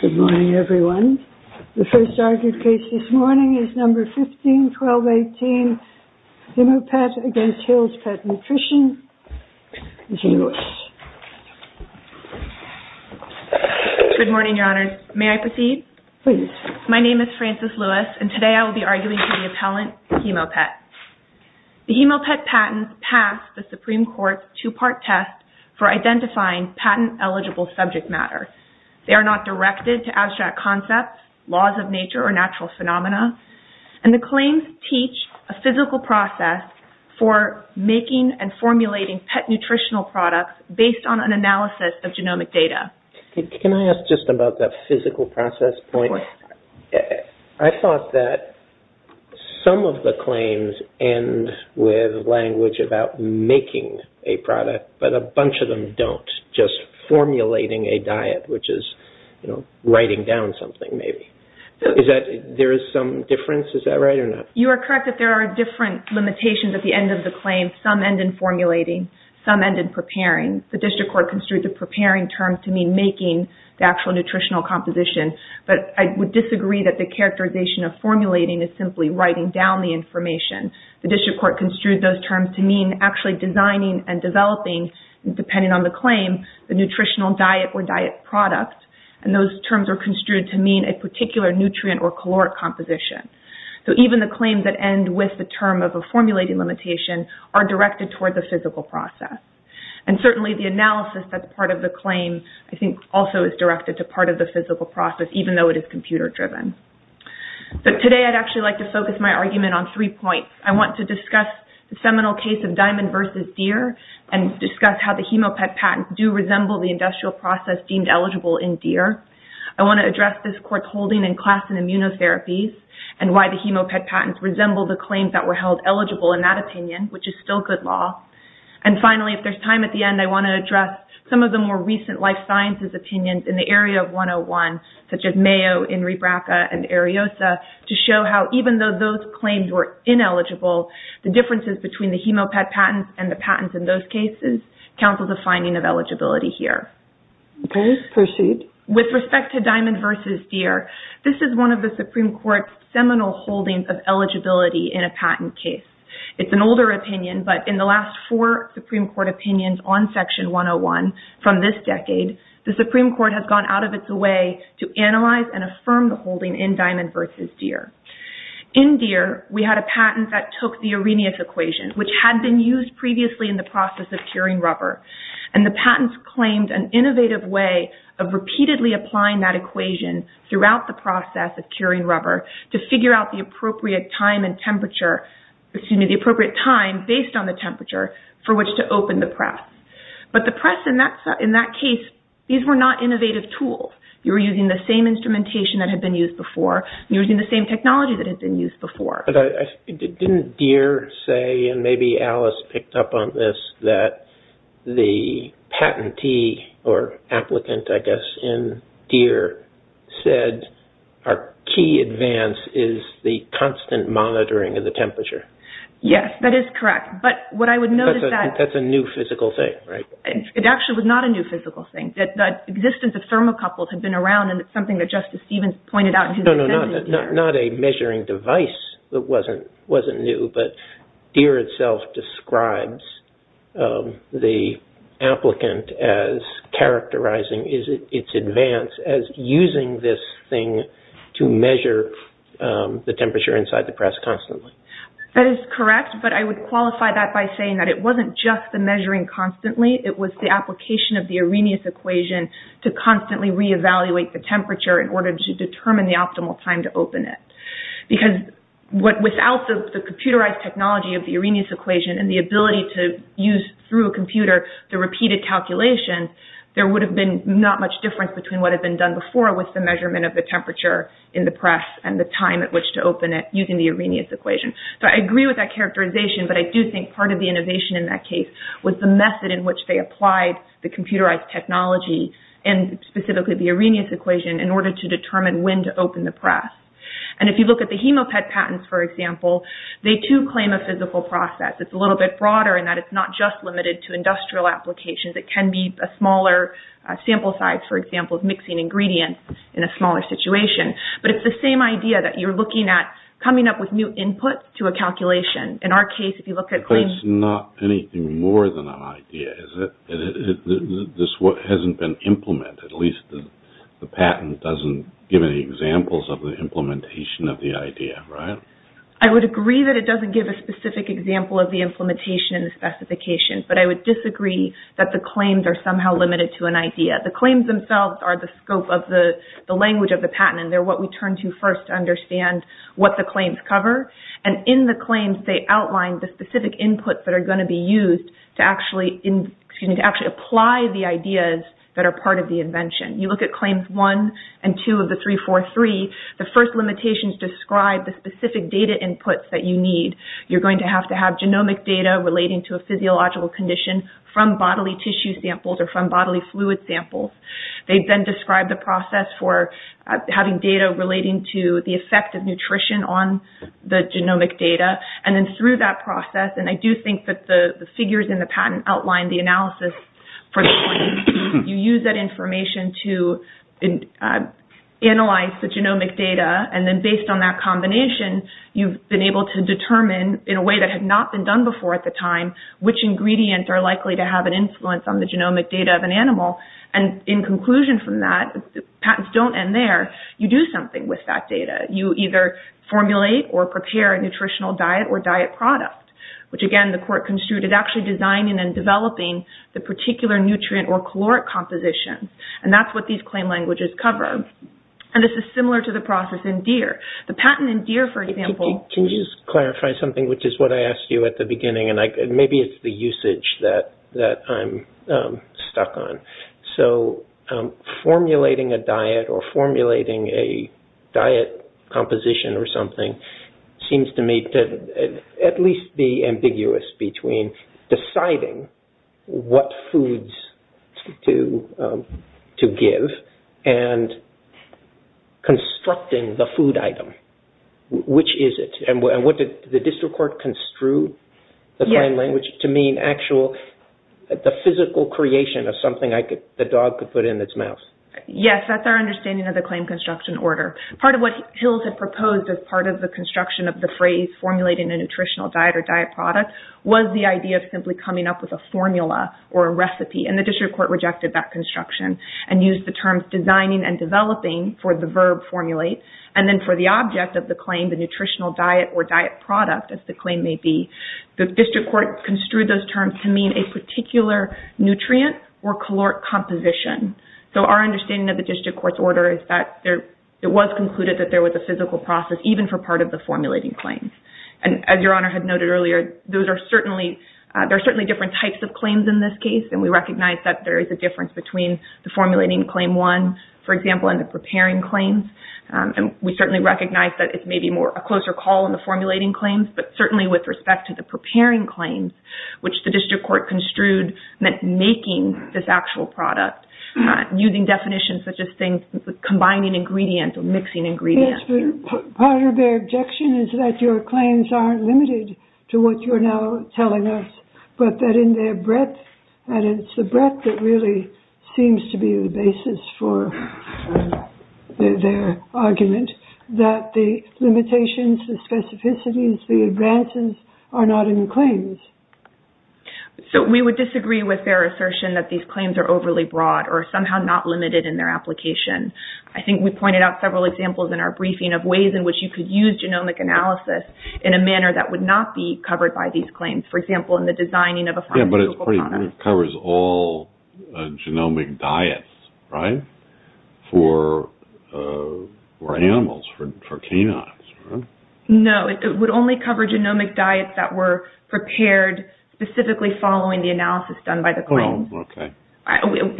Good morning, everyone. The first argument case this morning is No. 15-1218, Hemopet v. Hill's Pet Nutrition, Ms. Lewis. Good morning, Your Honors. May I proceed? Please. My name is Frances Lewis, and today I will be arguing for the appellant, Hemopet. The Hemopet patents pass the Supreme Court's two-part test for identifying patent-eligible subject matter. They are not directed to abstract concepts, laws of nature, or natural phenomena. And the claims teach a physical process for making and formulating pet nutritional products based on an analysis of genomic data. Can I ask just about that physical process point? I thought that some of the claims end with language about making a product, but a bunch of them don't, just formulating a diet, which is writing down something, maybe. There is some difference? Is that right or not? You are correct that there are different limitations at the end of the claim. Some end in formulating. Some end in preparing. The district court construed the preparing term to mean making the actual nutritional composition, but I would disagree that the characterization of formulating is simply writing down the information. The district court construed those terms to mean actually designing and developing, depending on the claim, the nutritional diet or diet product. And those terms are construed to mean a particular nutrient or caloric composition. So even the claims that end with the term of a formulating limitation are directed toward the physical process. And certainly the analysis that's part of the claim, I think, also is directed to part of the physical process, even though it is computer driven. But today I'd actually like to focus my argument on three points. I want to discuss the seminal case of Diamond v. Deere and discuss how the Hemopet patents do resemble the industrial process deemed eligible in Deere. I want to address this court's holding in class in immunotherapies and why the Hemopet patents resemble the claims that were held eligible in that opinion, which is still good law. And finally, if there's time at the end, I want to address some of the more recent life sciences opinions in the area of 101, such as Mayo, Enri Braca, and Ariosa, to show how even though those claims were ineligible, the differences between the Hemopet patents and the patents in those cases counsel the finding of eligibility here. Okay. Proceed. With respect to Diamond v. Deere, this is one of the Supreme Court's seminal holdings of eligibility in a patent case. It's an older opinion, but in the last four Supreme Court opinions on Section 101 from this decade, the Supreme Court has gone out of its way to analyze and affirm the holding in Diamond v. Deere. In Deere, we had a patent that took the Arrhenius equation, which had been used previously in the process of curing rubber. And the patents claimed an innovative way of repeatedly applying that equation throughout the process of curing rubber to figure out the appropriate time and temperature, excuse me, the appropriate time based on the temperature for which to open the press. But the press in that case, these were not innovative tools. You were using the same instrumentation that had been used before, and you were using the same technology that had been used before. But didn't Deere say, and maybe Alice picked up on this, that the patentee or applicant, I guess, in Deere said our key advance is the constant monitoring of the temperature? Yes, that is correct. That's a new physical thing, right? It actually was not a new physical thing. The existence of thermocouples had been around, and it's something that Justice Stevens pointed out in his defense of Deere. No, not a measuring device that wasn't new, but Deere itself describes the applicant as characterizing its advance as using this thing to measure the temperature inside the press constantly. That is correct, but I would qualify that by saying that it wasn't just the measuring constantly. It was the application of the Arrhenius equation to constantly reevaluate the temperature in order to determine the optimal time to open it. Because without the computerized technology of the Arrhenius equation and the ability to use through a computer the repeated calculations, there would have been not much difference between what had been done before with the measurement of the temperature in the press and the time at which to open it using the Arrhenius equation. I agree with that characterization, but I do think part of the innovation in that case was the method in which they applied the computerized technology and specifically the Arrhenius equation in order to determine when to open the press. If you look at the Hemopad patents, for example, they too claim a physical process. It's a little bit broader in that it's not just limited to industrial applications. It can be a smaller sample size, for example, of mixing ingredients in a smaller situation. But it's the same idea that you're looking at coming up with new inputs to a calculation. In our case, if you look at claims... But it's not anything more than an idea, is it? This hasn't been implemented. At least the patent doesn't give any examples of the implementation of the idea, right? I would agree that it doesn't give a specific example of the implementation and the specification, but I would disagree that the claims are somehow limited to an idea. The claims themselves are the scope of the language of the patent, and they're what we turn to first to understand what the claims cover. In the claims, they outline the specific inputs that are going to be used to actually apply the ideas that are part of the invention. You look at Claims 1 and 2 of the 343, the first limitations describe the specific data inputs that you need. You're going to have to have genomic data relating to a physiological condition from bodily tissue samples or from bodily fluid samples. They then describe the process for having data relating to the effect of nutrition on the genomic data, and then through that process, and I do think that the figures in the patent outline the analysis for the claim. You use that information to analyze the genomic data, and then based on that combination, you've been able to determine, in a way that had not been done before at the time, which ingredients are likely to have an influence on the genomic data of an animal. In conclusion from that, patents don't end there. You do something with that data. You either formulate or prepare a nutritional diet or diet product, which, again, the court construed as actually designing and developing the particular nutrient or caloric composition, and that's what these claim languages cover. This is similar to the process in deer. The patent in deer, for example— Can you just clarify something, which is what I asked you at the beginning, and maybe it's the usage that I'm stuck on. Formulating a diet or formulating a diet composition or something seems to me to at least be ambiguous between deciding what foods to give and constructing the food item. Which is it? Did the district court construe the claim language to mean the physical creation of something the dog could put in its mouth? Yes, that's our understanding of the claim construction order. Part of what Hills had proposed as part of the construction of the phrase formulating a nutritional diet or diet product was the idea of simply coming up with a formula or a recipe, and the district court rejected that construction and used the terms designing and developing for the verb formulate, and then for the object of the claim, the nutritional diet or diet product, as the claim may be. The district court construed those terms to mean a particular nutrient or caloric composition. So our understanding of the district court's order is that it was concluded that there was a physical process even for part of the formulating claim. And as Your Honor had noted earlier, there are certainly different types of claims in this case, and we recognize that there is a difference between the formulating claim one, for example, and the preparing claims. And we certainly recognize that it's maybe a closer call on the formulating claims, but certainly with respect to the preparing claims, which the district court construed meant making this actual product, using definitions such as combining ingredients or mixing ingredients. Part of their objection is that your claims aren't limited to what you're now telling us, but that in their breadth, and it's the breadth that really seems to be the basis for their argument, that the limitations, the specificities, the advances are not in the claims. So we would disagree with their assertion that these claims are overly broad or somehow not limited in their application. I think we pointed out several examples in our briefing of ways in which you could use genomic analysis in a manner that would not be covered by these claims. For example, in the designing of a pharmaceutical product. Yeah, but it covers all genomic diets, right, for animals, for canines, right? No, it would only cover genomic diets that were prepared specifically following the analysis done by the claims. Oh, okay.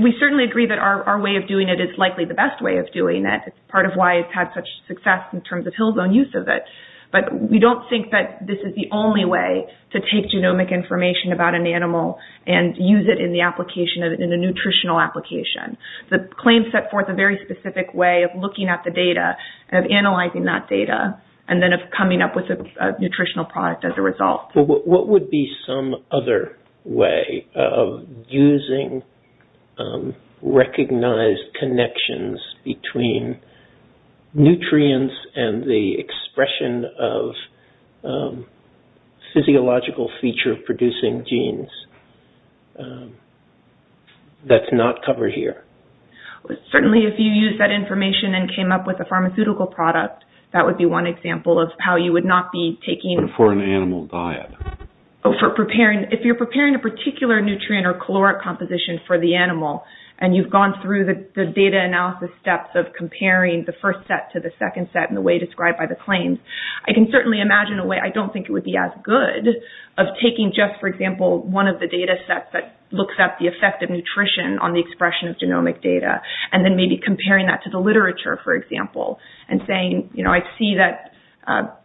We certainly agree that our way of doing it is likely the best way of doing it. It's part of why it's had such success in terms of hill zone use of it. But we don't think that this is the only way to take genomic information about an animal and use it in the application of it in a nutritional application. The claims set forth a very specific way of looking at the data, of analyzing that data, and then of coming up with a nutritional product as a result. What would be some other way of using recognized connections between nutrients and the expression of physiological feature-producing genes that's not covered here? Certainly, if you use that information and came up with a pharmaceutical product, that would be one example of how you would not be taking... If you're preparing a particular nutrient or caloric composition for the animal and you've gone through the data analysis steps of comparing the first set to the second set in the way described by the claims, I can certainly imagine a way, I don't think it would be as good, of taking just, for example, one of the data sets that looks at the effect of nutrition on the expression of genomic data and then maybe comparing that to the literature, for example, and saying, I see that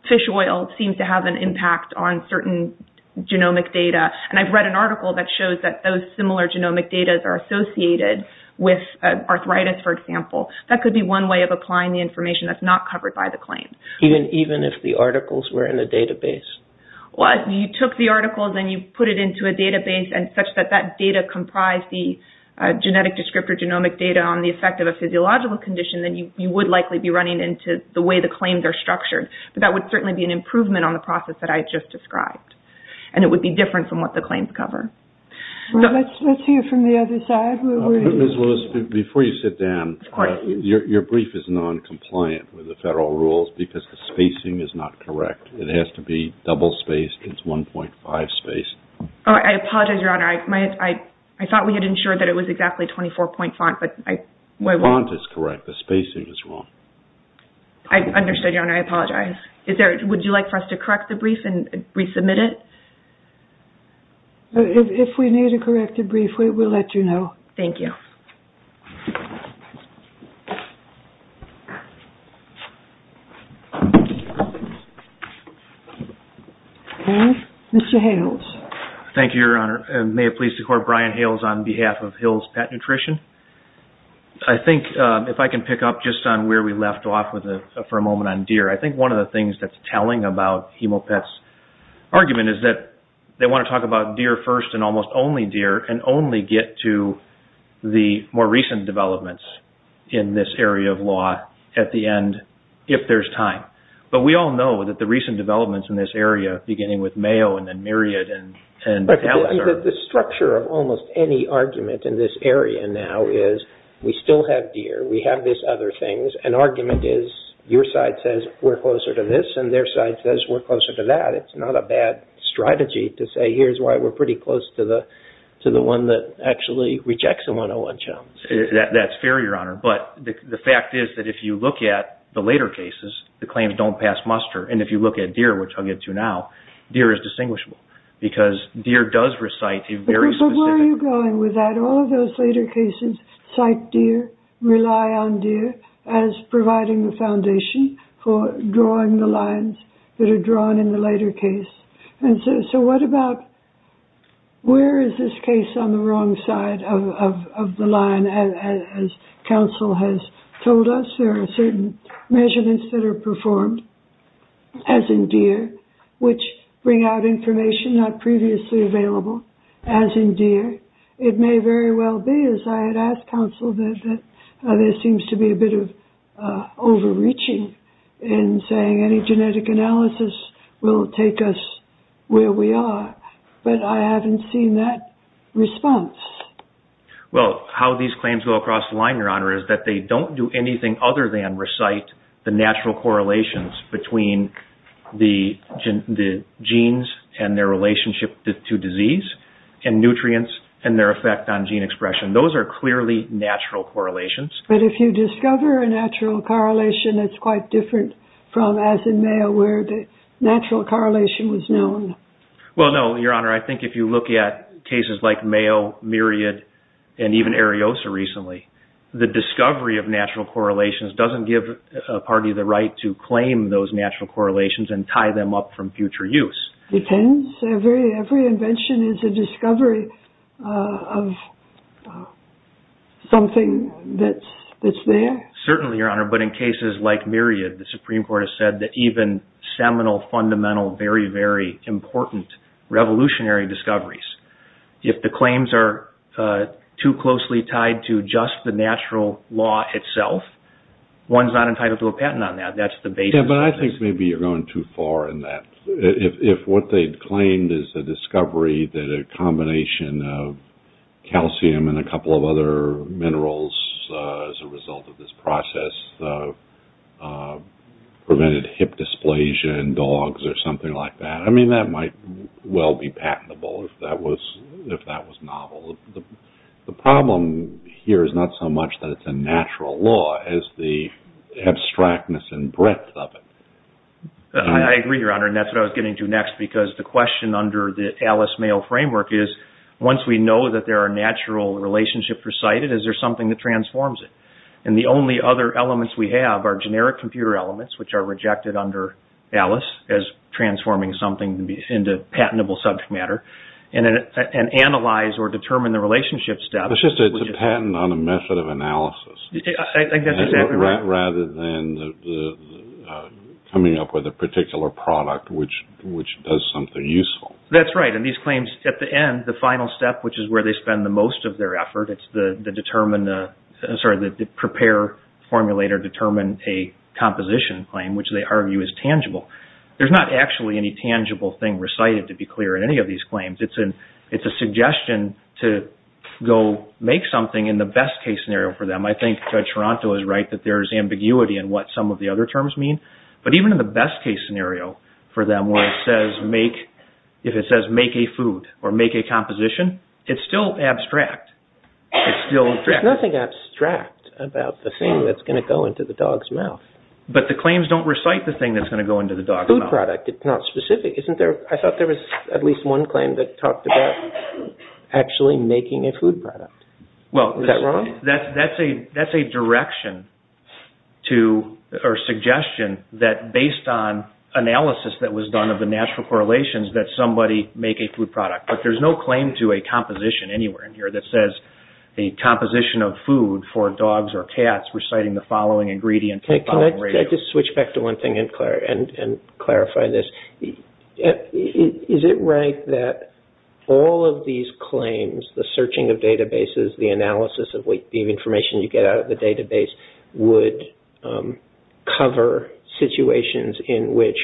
fish oil seems to have an impact on certain genomic data, and I've read an article that shows that those similar genomic data are associated with arthritis, for example. That could be one way of applying the information that's not covered by the claim. Even if the articles were in a database? Well, if you took the articles and you put it into a database, and such that that data comprised the genetic descriptor genomic data on the effect of a physiological condition, then you would likely be running into the way the claims are structured. But that would certainly be an improvement on the process that I just described, and it would be different from what the claims cover. Let's hear from the other side. Ms. Willis, before you sit down, your brief is noncompliant with the federal rules because the spacing is not correct. It has to be double-spaced. It's 1.5-spaced. I apologize, Your Honor. I thought we had ensured that it was exactly 24-point font. The font is correct. The spacing is wrong. I understand, Your Honor. I apologize. Would you like for us to correct the brief and resubmit it? If we need to correct the brief, we will let you know. Thank you. Mr. Hales. Thank you, Your Honor. And may it please the Court, Brian Hales on behalf of Hills Pet Nutrition. I think if I can pick up just on where we left off for a moment on deer, I think one of the things that's telling about Hemopets' argument is that they want to talk about deer first and almost only deer and only get to the more recent developments in this area of law at the end if there's time. But we all know that the recent developments in this area, beginning with Mayo and then Myriad and Battalasar. The structure of almost any argument in this area now is we still have deer. We have these other things. An argument is your side says we're closer to this and their side says we're closer to that. It's not a bad strategy to say here's why we're pretty close to the one that actually rejects a 101-CHOMS. That's fair, Your Honor. But the fact is that if you look at the later cases, the claims don't pass muster. And if you look at deer, which I'll get to now, deer is distinguishable because deer does recite a very specific- But where are you going with that? All of those later cases cite deer, rely on deer as providing the foundation for drawing the lines that are drawn in the later case. And so what about where is this case on the wrong side of the line? As counsel has told us, there are certain measurements that are performed, as in deer, which bring out information not previously available, as in deer. It may very well be, as I had asked counsel, that there seems to be a bit of overreaching in saying any genetic analysis will take us where we are. But I haven't seen that response. Well, how these claims go across the line, Your Honor, is that they don't do anything other than recite the natural correlations between the genes and their relationship to disease and nutrients and their effect on gene expression. Those are clearly natural correlations. But if you discover a natural correlation, it's quite different from, as in mayo, where the natural correlation was known. Well, no, Your Honor, I think if you look at cases like mayo, myriad, and even areosa recently, the discovery of natural correlations doesn't give a party the right to claim those natural correlations and tie them up from future use. Every invention is a discovery of something that's there. Certainly, Your Honor, but in cases like myriad, the Supreme Court has said that even seminal, fundamental, very, very important revolutionary discoveries, if the claims are too closely tied to just the natural law itself, one's not entitled to a patent on that. Yeah, but I think maybe you're going too far in that. If what they'd claimed is a discovery that a combination of calcium and a couple of other minerals, as a result of this process, prevented hip dysplasia in dogs or something like that, I mean, that might well be patentable if that was novel. The problem here is not so much that it's a natural law as the abstractness and breadth of it. I agree, Your Honor, and that's what I was getting to next because the question under the Alice Mayo framework is, once we know that there are natural relationships recited, is there something that transforms it? And the only other elements we have are generic computer elements, which are rejected under Alice as transforming something into patentable subject matter, and analyze or determine the relationship step. It's just a patent on a method of analysis rather than coming up with a particular product, which does something useful. That's right, and these claims, at the end, the final step, which is where they spend the most of their effort, it's the prepare, formulate, or determine a composition claim, which they argue is tangible. There's not actually any tangible thing recited, to be clear, in any of these claims. It's a suggestion to go make something in the best case scenario for them. I think Judge Toronto is right that there's ambiguity in what some of the other terms mean, but even in the best case scenario for them where it says make, if it says make a food or make a composition, it's still abstract. There's nothing abstract about the thing that's going to go into the dog's mouth. But the claims don't recite the thing that's going to go into the dog's mouth. Food product, it's not specific. I thought there was at least one claim that talked about actually making a food product. Is that wrong? That's a direction or suggestion that, based on analysis that was done of the natural correlations, that somebody make a food product. But there's no claim to a composition anywhere in here that says a composition of food for dogs or cats reciting the following ingredient. Can I just switch back to one thing and clarify this? Is it right that all of these claims, the searching of databases, the analysis of the information you get out of the database, would cover situations in which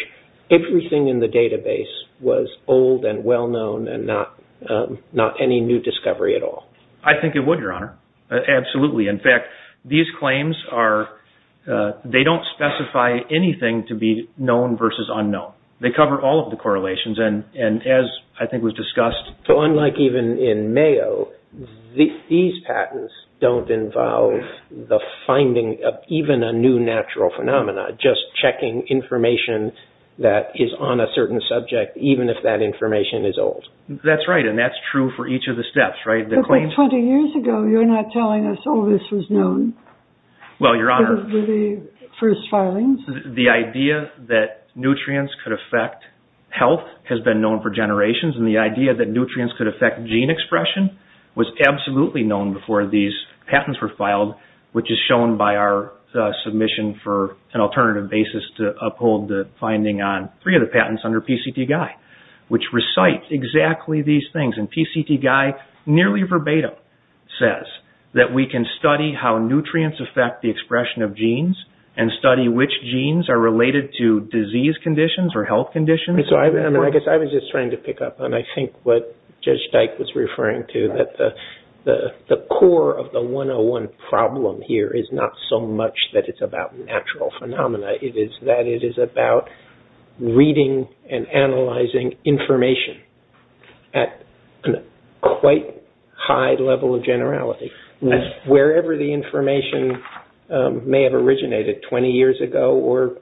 everything in the database was old and well-known and not any new discovery at all? I think it would, Your Honor. Absolutely. In fact, these claims don't specify anything to be known versus unknown. They cover all of the correlations. As I think was discussed... Unlike even in Mayo, these patents don't involve the finding of even a new natural phenomenon, just checking information that is on a certain subject, even if that information is old. That's right, and that's true for each of the steps. But 20 years ago, you're not telling us all this was known. Well, Your Honor, the idea that nutrients could affect health has been known for generations, and the idea that nutrients could affect gene expression was absolutely known before these patents were filed, which is shown by our submission for an alternative basis to uphold the finding on three of the patents under PCT-GUI, which recite exactly these things. And PCT-GUI nearly verbatim says that we can study how nutrients affect the expression of genes and study which genes are related to disease conditions or health conditions. I guess I was just trying to pick up on, I think, what Judge Dyke was referring to, that the core of the 101 problem here is not so much that it's about natural phenomena. It is that it is about reading and analyzing information at a quite high level of generality, wherever the information may have originated 20 years ago or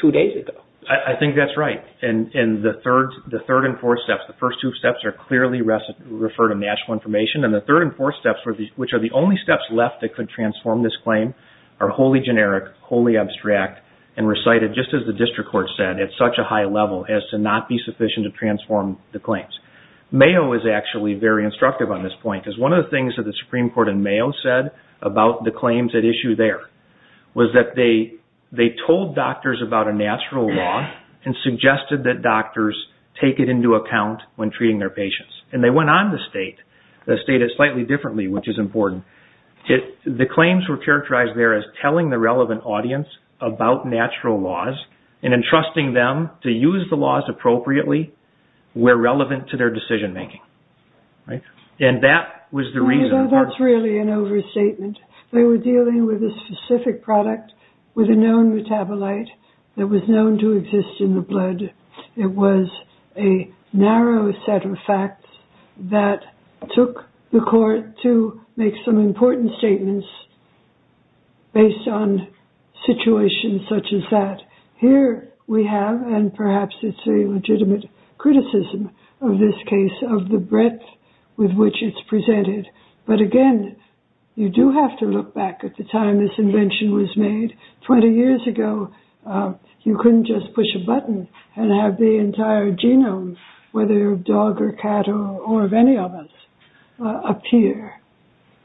two days ago. I think that's right. And the third and fourth steps, the first two steps are clearly referred to natural information, and the third and fourth steps, which are the only steps left that could transform this claim, are wholly generic, wholly abstract, and recited, just as the district court said, at such a high level as to not be sufficient to transform the claims. Mayo is actually very instructive on this point because one of the things that the Supreme Court in Mayo said about the claims at issue there was that they told doctors about a natural law and suggested that doctors take it into account when treating their patients. And they went on to state it slightly differently, which is important. The claims were characterized there as telling the relevant audience about natural laws and entrusting them to use the laws appropriately where relevant to their decision-making. That's really an overstatement. They were dealing with a specific product with a known metabolite that was known to exist in the blood. It was a narrow set of facts that took the court to make some important statements based on situations such as that. Here we have, and perhaps it's a legitimate criticism of this case, of the breadth with which it's presented. But again, you do have to look back at the time this invention was made. Twenty years ago, you couldn't just push a button and have the entire genome, whether dog or cat or any of us, appear.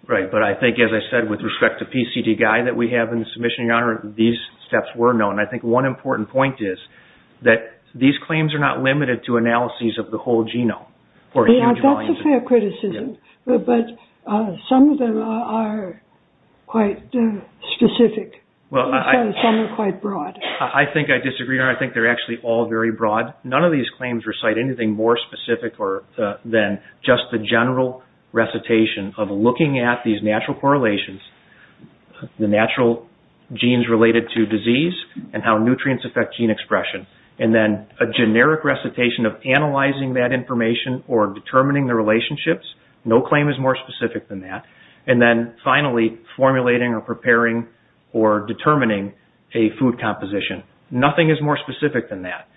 Right, but I think as I said with respect to PCD guy that we have in the submission, Your Honor, these steps were known. I think one important point is that these claims are not limited to analyses of the whole genome. That's a fair criticism, but some of them are quite specific. Some are quite broad. I think I disagree, Your Honor. I think they're actually all very broad. None of these claims recite anything more specific than just the general recitation of looking at these natural correlations, the natural genes related to disease and how nutrients affect gene expression. And then a generic recitation of analyzing that information or determining the relationships. No claim is more specific than that. And then finally, formulating or preparing or determining a food composition. Nothing is more specific than that.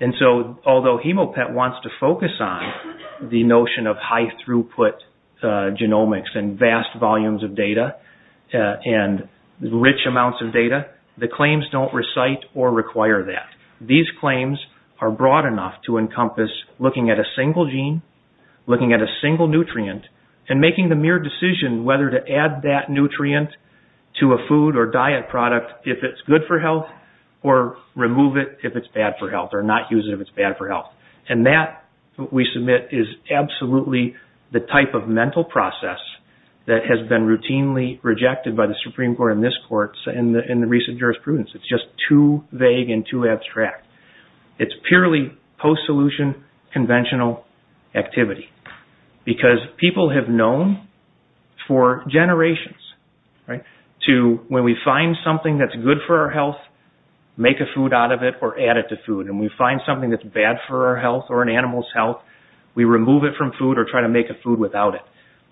And so although Hemopet wants to focus on the notion of high throughput genomics and vast volumes of data and rich amounts of data, the claims don't recite or require that. These claims are broad enough to encompass looking at a single gene, looking at a single nutrient, and making the mere decision whether to add that nutrient to a food or diet product if it's good for health or remove it if it's bad for health or not use it if it's bad for health. And that, we submit, is absolutely the type of mental process that has been routinely rejected by the Supreme Court and this Court in the recent jurisprudence. It's just too vague and too abstract. It's purely post-solution conventional activity. Because people have known for generations to, when we find something that's good for our health, make a food out of it or add it to food. And we find something that's bad for our health or an animal's health, we remove it from food or try to make a food without it.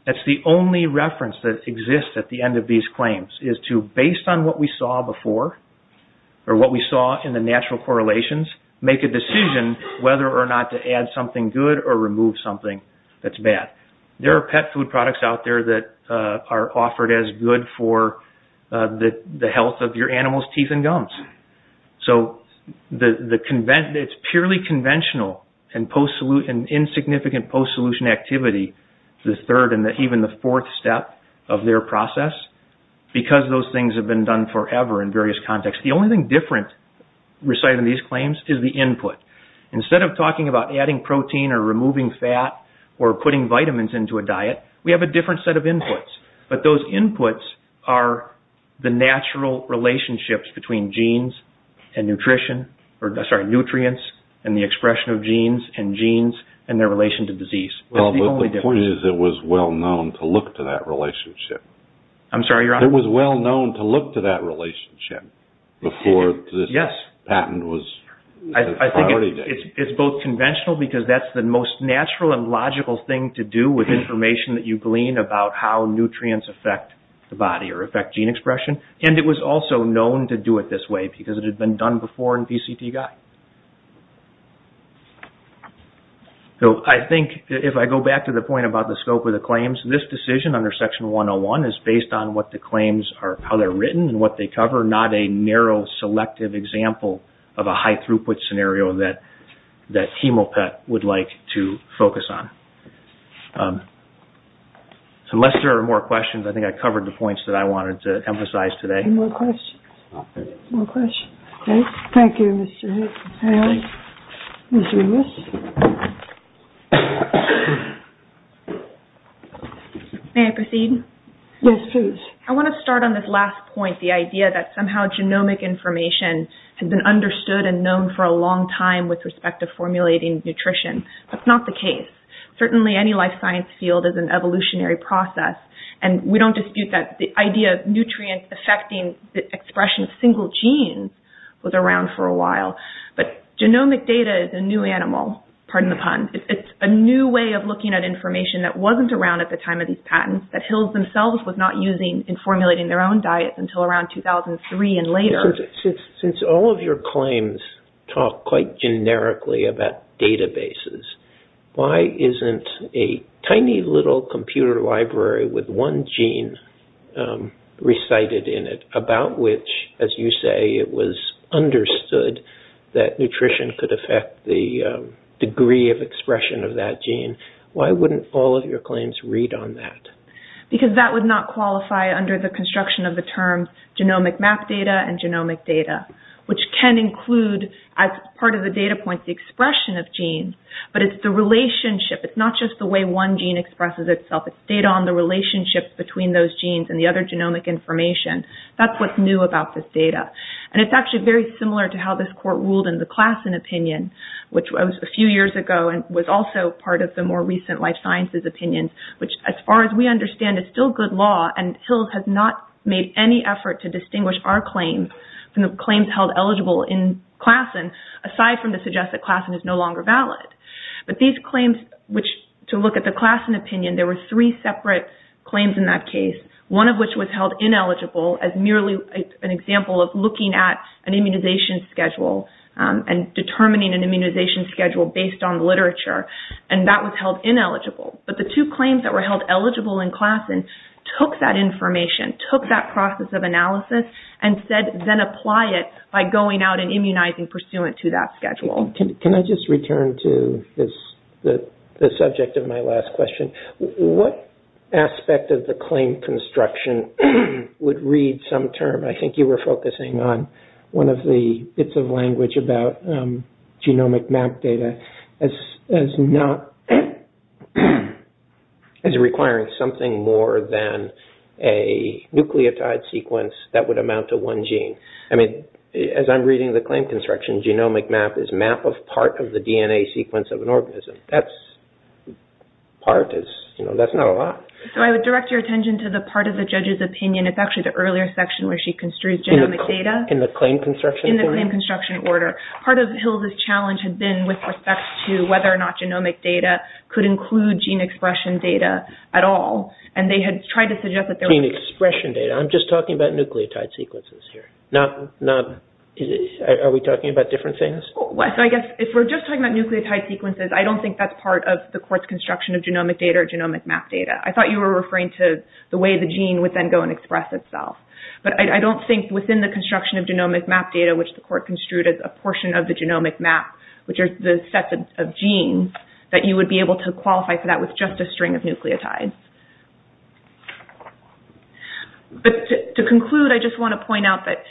That's the only reference that exists at the end of these claims is to, based on what we saw before, or what we saw in the natural correlations, make a decision whether or not to add something good or remove something that's bad. There are pet food products out there that are offered as good for the health of your animal's teeth and gums. So, it's purely conventional and insignificant post-solution activity, the third and even the fourth step of their process, because those things have been done forever in various contexts. The only thing different, recited in these claims, is the input. Instead of talking about adding protein or removing fat or putting vitamins into a diet, we have a different set of inputs. But those inputs are the natural relationships between genes and nutrients and the expression of genes and genes and their relation to disease. Well, the point is it was well known to look to that relationship. I'm sorry, Your Honor? It was well known to look to that relationship before this patent was a priority. I think it's both conventional, because that's the most natural and logical thing to do with information that you glean about how nutrients affect the body or affect gene expression, and it was also known to do it this way because it had been done before in PCT Guide. So, I think if I go back to the point about the scope of the claims, this decision under Section 101 is based on what the claims are, how they're written and what they cover, not a narrow, selective example of a high-throughput scenario that Hemopet would like to focus on. So, unless there are more questions, I think I covered the points that I wanted to emphasize today. Any more questions? Thank you, Mr. Hicks. Ms. Rivas? May I proceed? Yes, please. I want to start on this last point, the idea that somehow genomic information has been understood and known for a long time with respect to formulating nutrition. That's not the case. Certainly, any life science field is an evolutionary process, and we don't dispute that. The idea of nutrients affecting the expression of single genes was around for a while, but genomic data is a new animal. Pardon the pun. It's a new way of looking at information that wasn't around at the time of these patents, that Hills themselves was not using in formulating their own diets until around 2003 and later. Since all of your claims talk quite generically about databases, why isn't a tiny little computer library with one gene recited in it, about which, as you say, it was understood that nutrition could affect the degree of expression of that gene, why wouldn't all of your claims read on that? Because that would not qualify under the construction of the term genomic map data and genomic data, which can include, as part of the data points, the expression of genes, but it's the relationship. It's not just the way one gene expresses itself. It's data on the relationship between those genes and the other genomic information. That's what's new about this data. And it's actually very similar to how this court ruled in the Klassen opinion, which was a few years ago and was also part of the more recent life sciences opinion, which, as far as we understand, is still good law, and Hills has not made any effort to distinguish our claims from the claims held eligible in Klassen, aside from to suggest that Klassen is no longer valid. But these claims, which, to look at the Klassen opinion, there were three separate claims in that case, one of which was held ineligible as merely an example of looking at an immunization schedule and determining an immunization schedule based on literature, and that was held ineligible. But the two claims that were held eligible in Klassen took that information, took that process of analysis, and said then apply it by going out and immunizing pursuant to that schedule. Can I just return to the subject of my last question? What aspect of the claim construction would read some term? I think you were focusing on one of the bits of language about genomic map data as requiring something more than a nucleotide sequence that would amount to one gene. I mean, as I'm reading the claim construction, genomic map is a map of part of the DNA sequence of an organism. That's part. That's not a lot. So I would direct your attention to the part of the judge's opinion. It's actually the earlier section where she construes genomic data. In the claim construction? In the claim construction order. Part of Hill's challenge had been with respect to whether or not genomic data could include gene expression data at all. Gene expression data? I'm just talking about nucleotide sequences here. Are we talking about different things? If we're just talking about nucleotide sequences, I don't think that's part of the court's construction of genomic data or genomic map data. I thought you were referring to the way the gene would then go and express itself. But I don't think within the construction of genomic map data, which the court construed as a portion of the genomic map, which are the sets of genes, that you would be able to qualify for that with just a string of nucleotides. But to conclude, I just want to point out that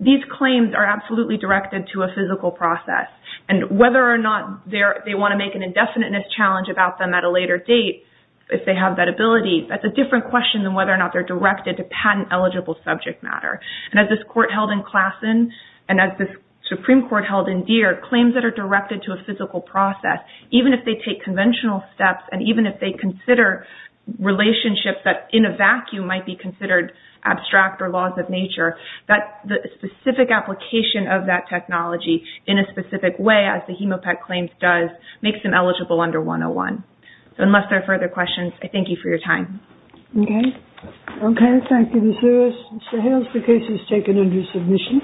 these claims are absolutely directed to a physical process. And whether or not they want to make an indefiniteness challenge about them at a later date, if they have that ability, that's a different question than whether or not they're directed to patent-eligible subject matter. And as this court held in Klassen and as this Supreme Court held in Deere, claims that are directed to a physical process, even if they take conventional steps and even if they consider relationships that in a vacuum might be considered abstract or laws of nature, the specific application of that technology in a specific way, as the Hemopet claims does, makes them eligible under 101. So unless there are further questions, I thank you for your time. Okay. Okay, thank you, Ms. Lewis. Mr. Hales, the case is taken under submission.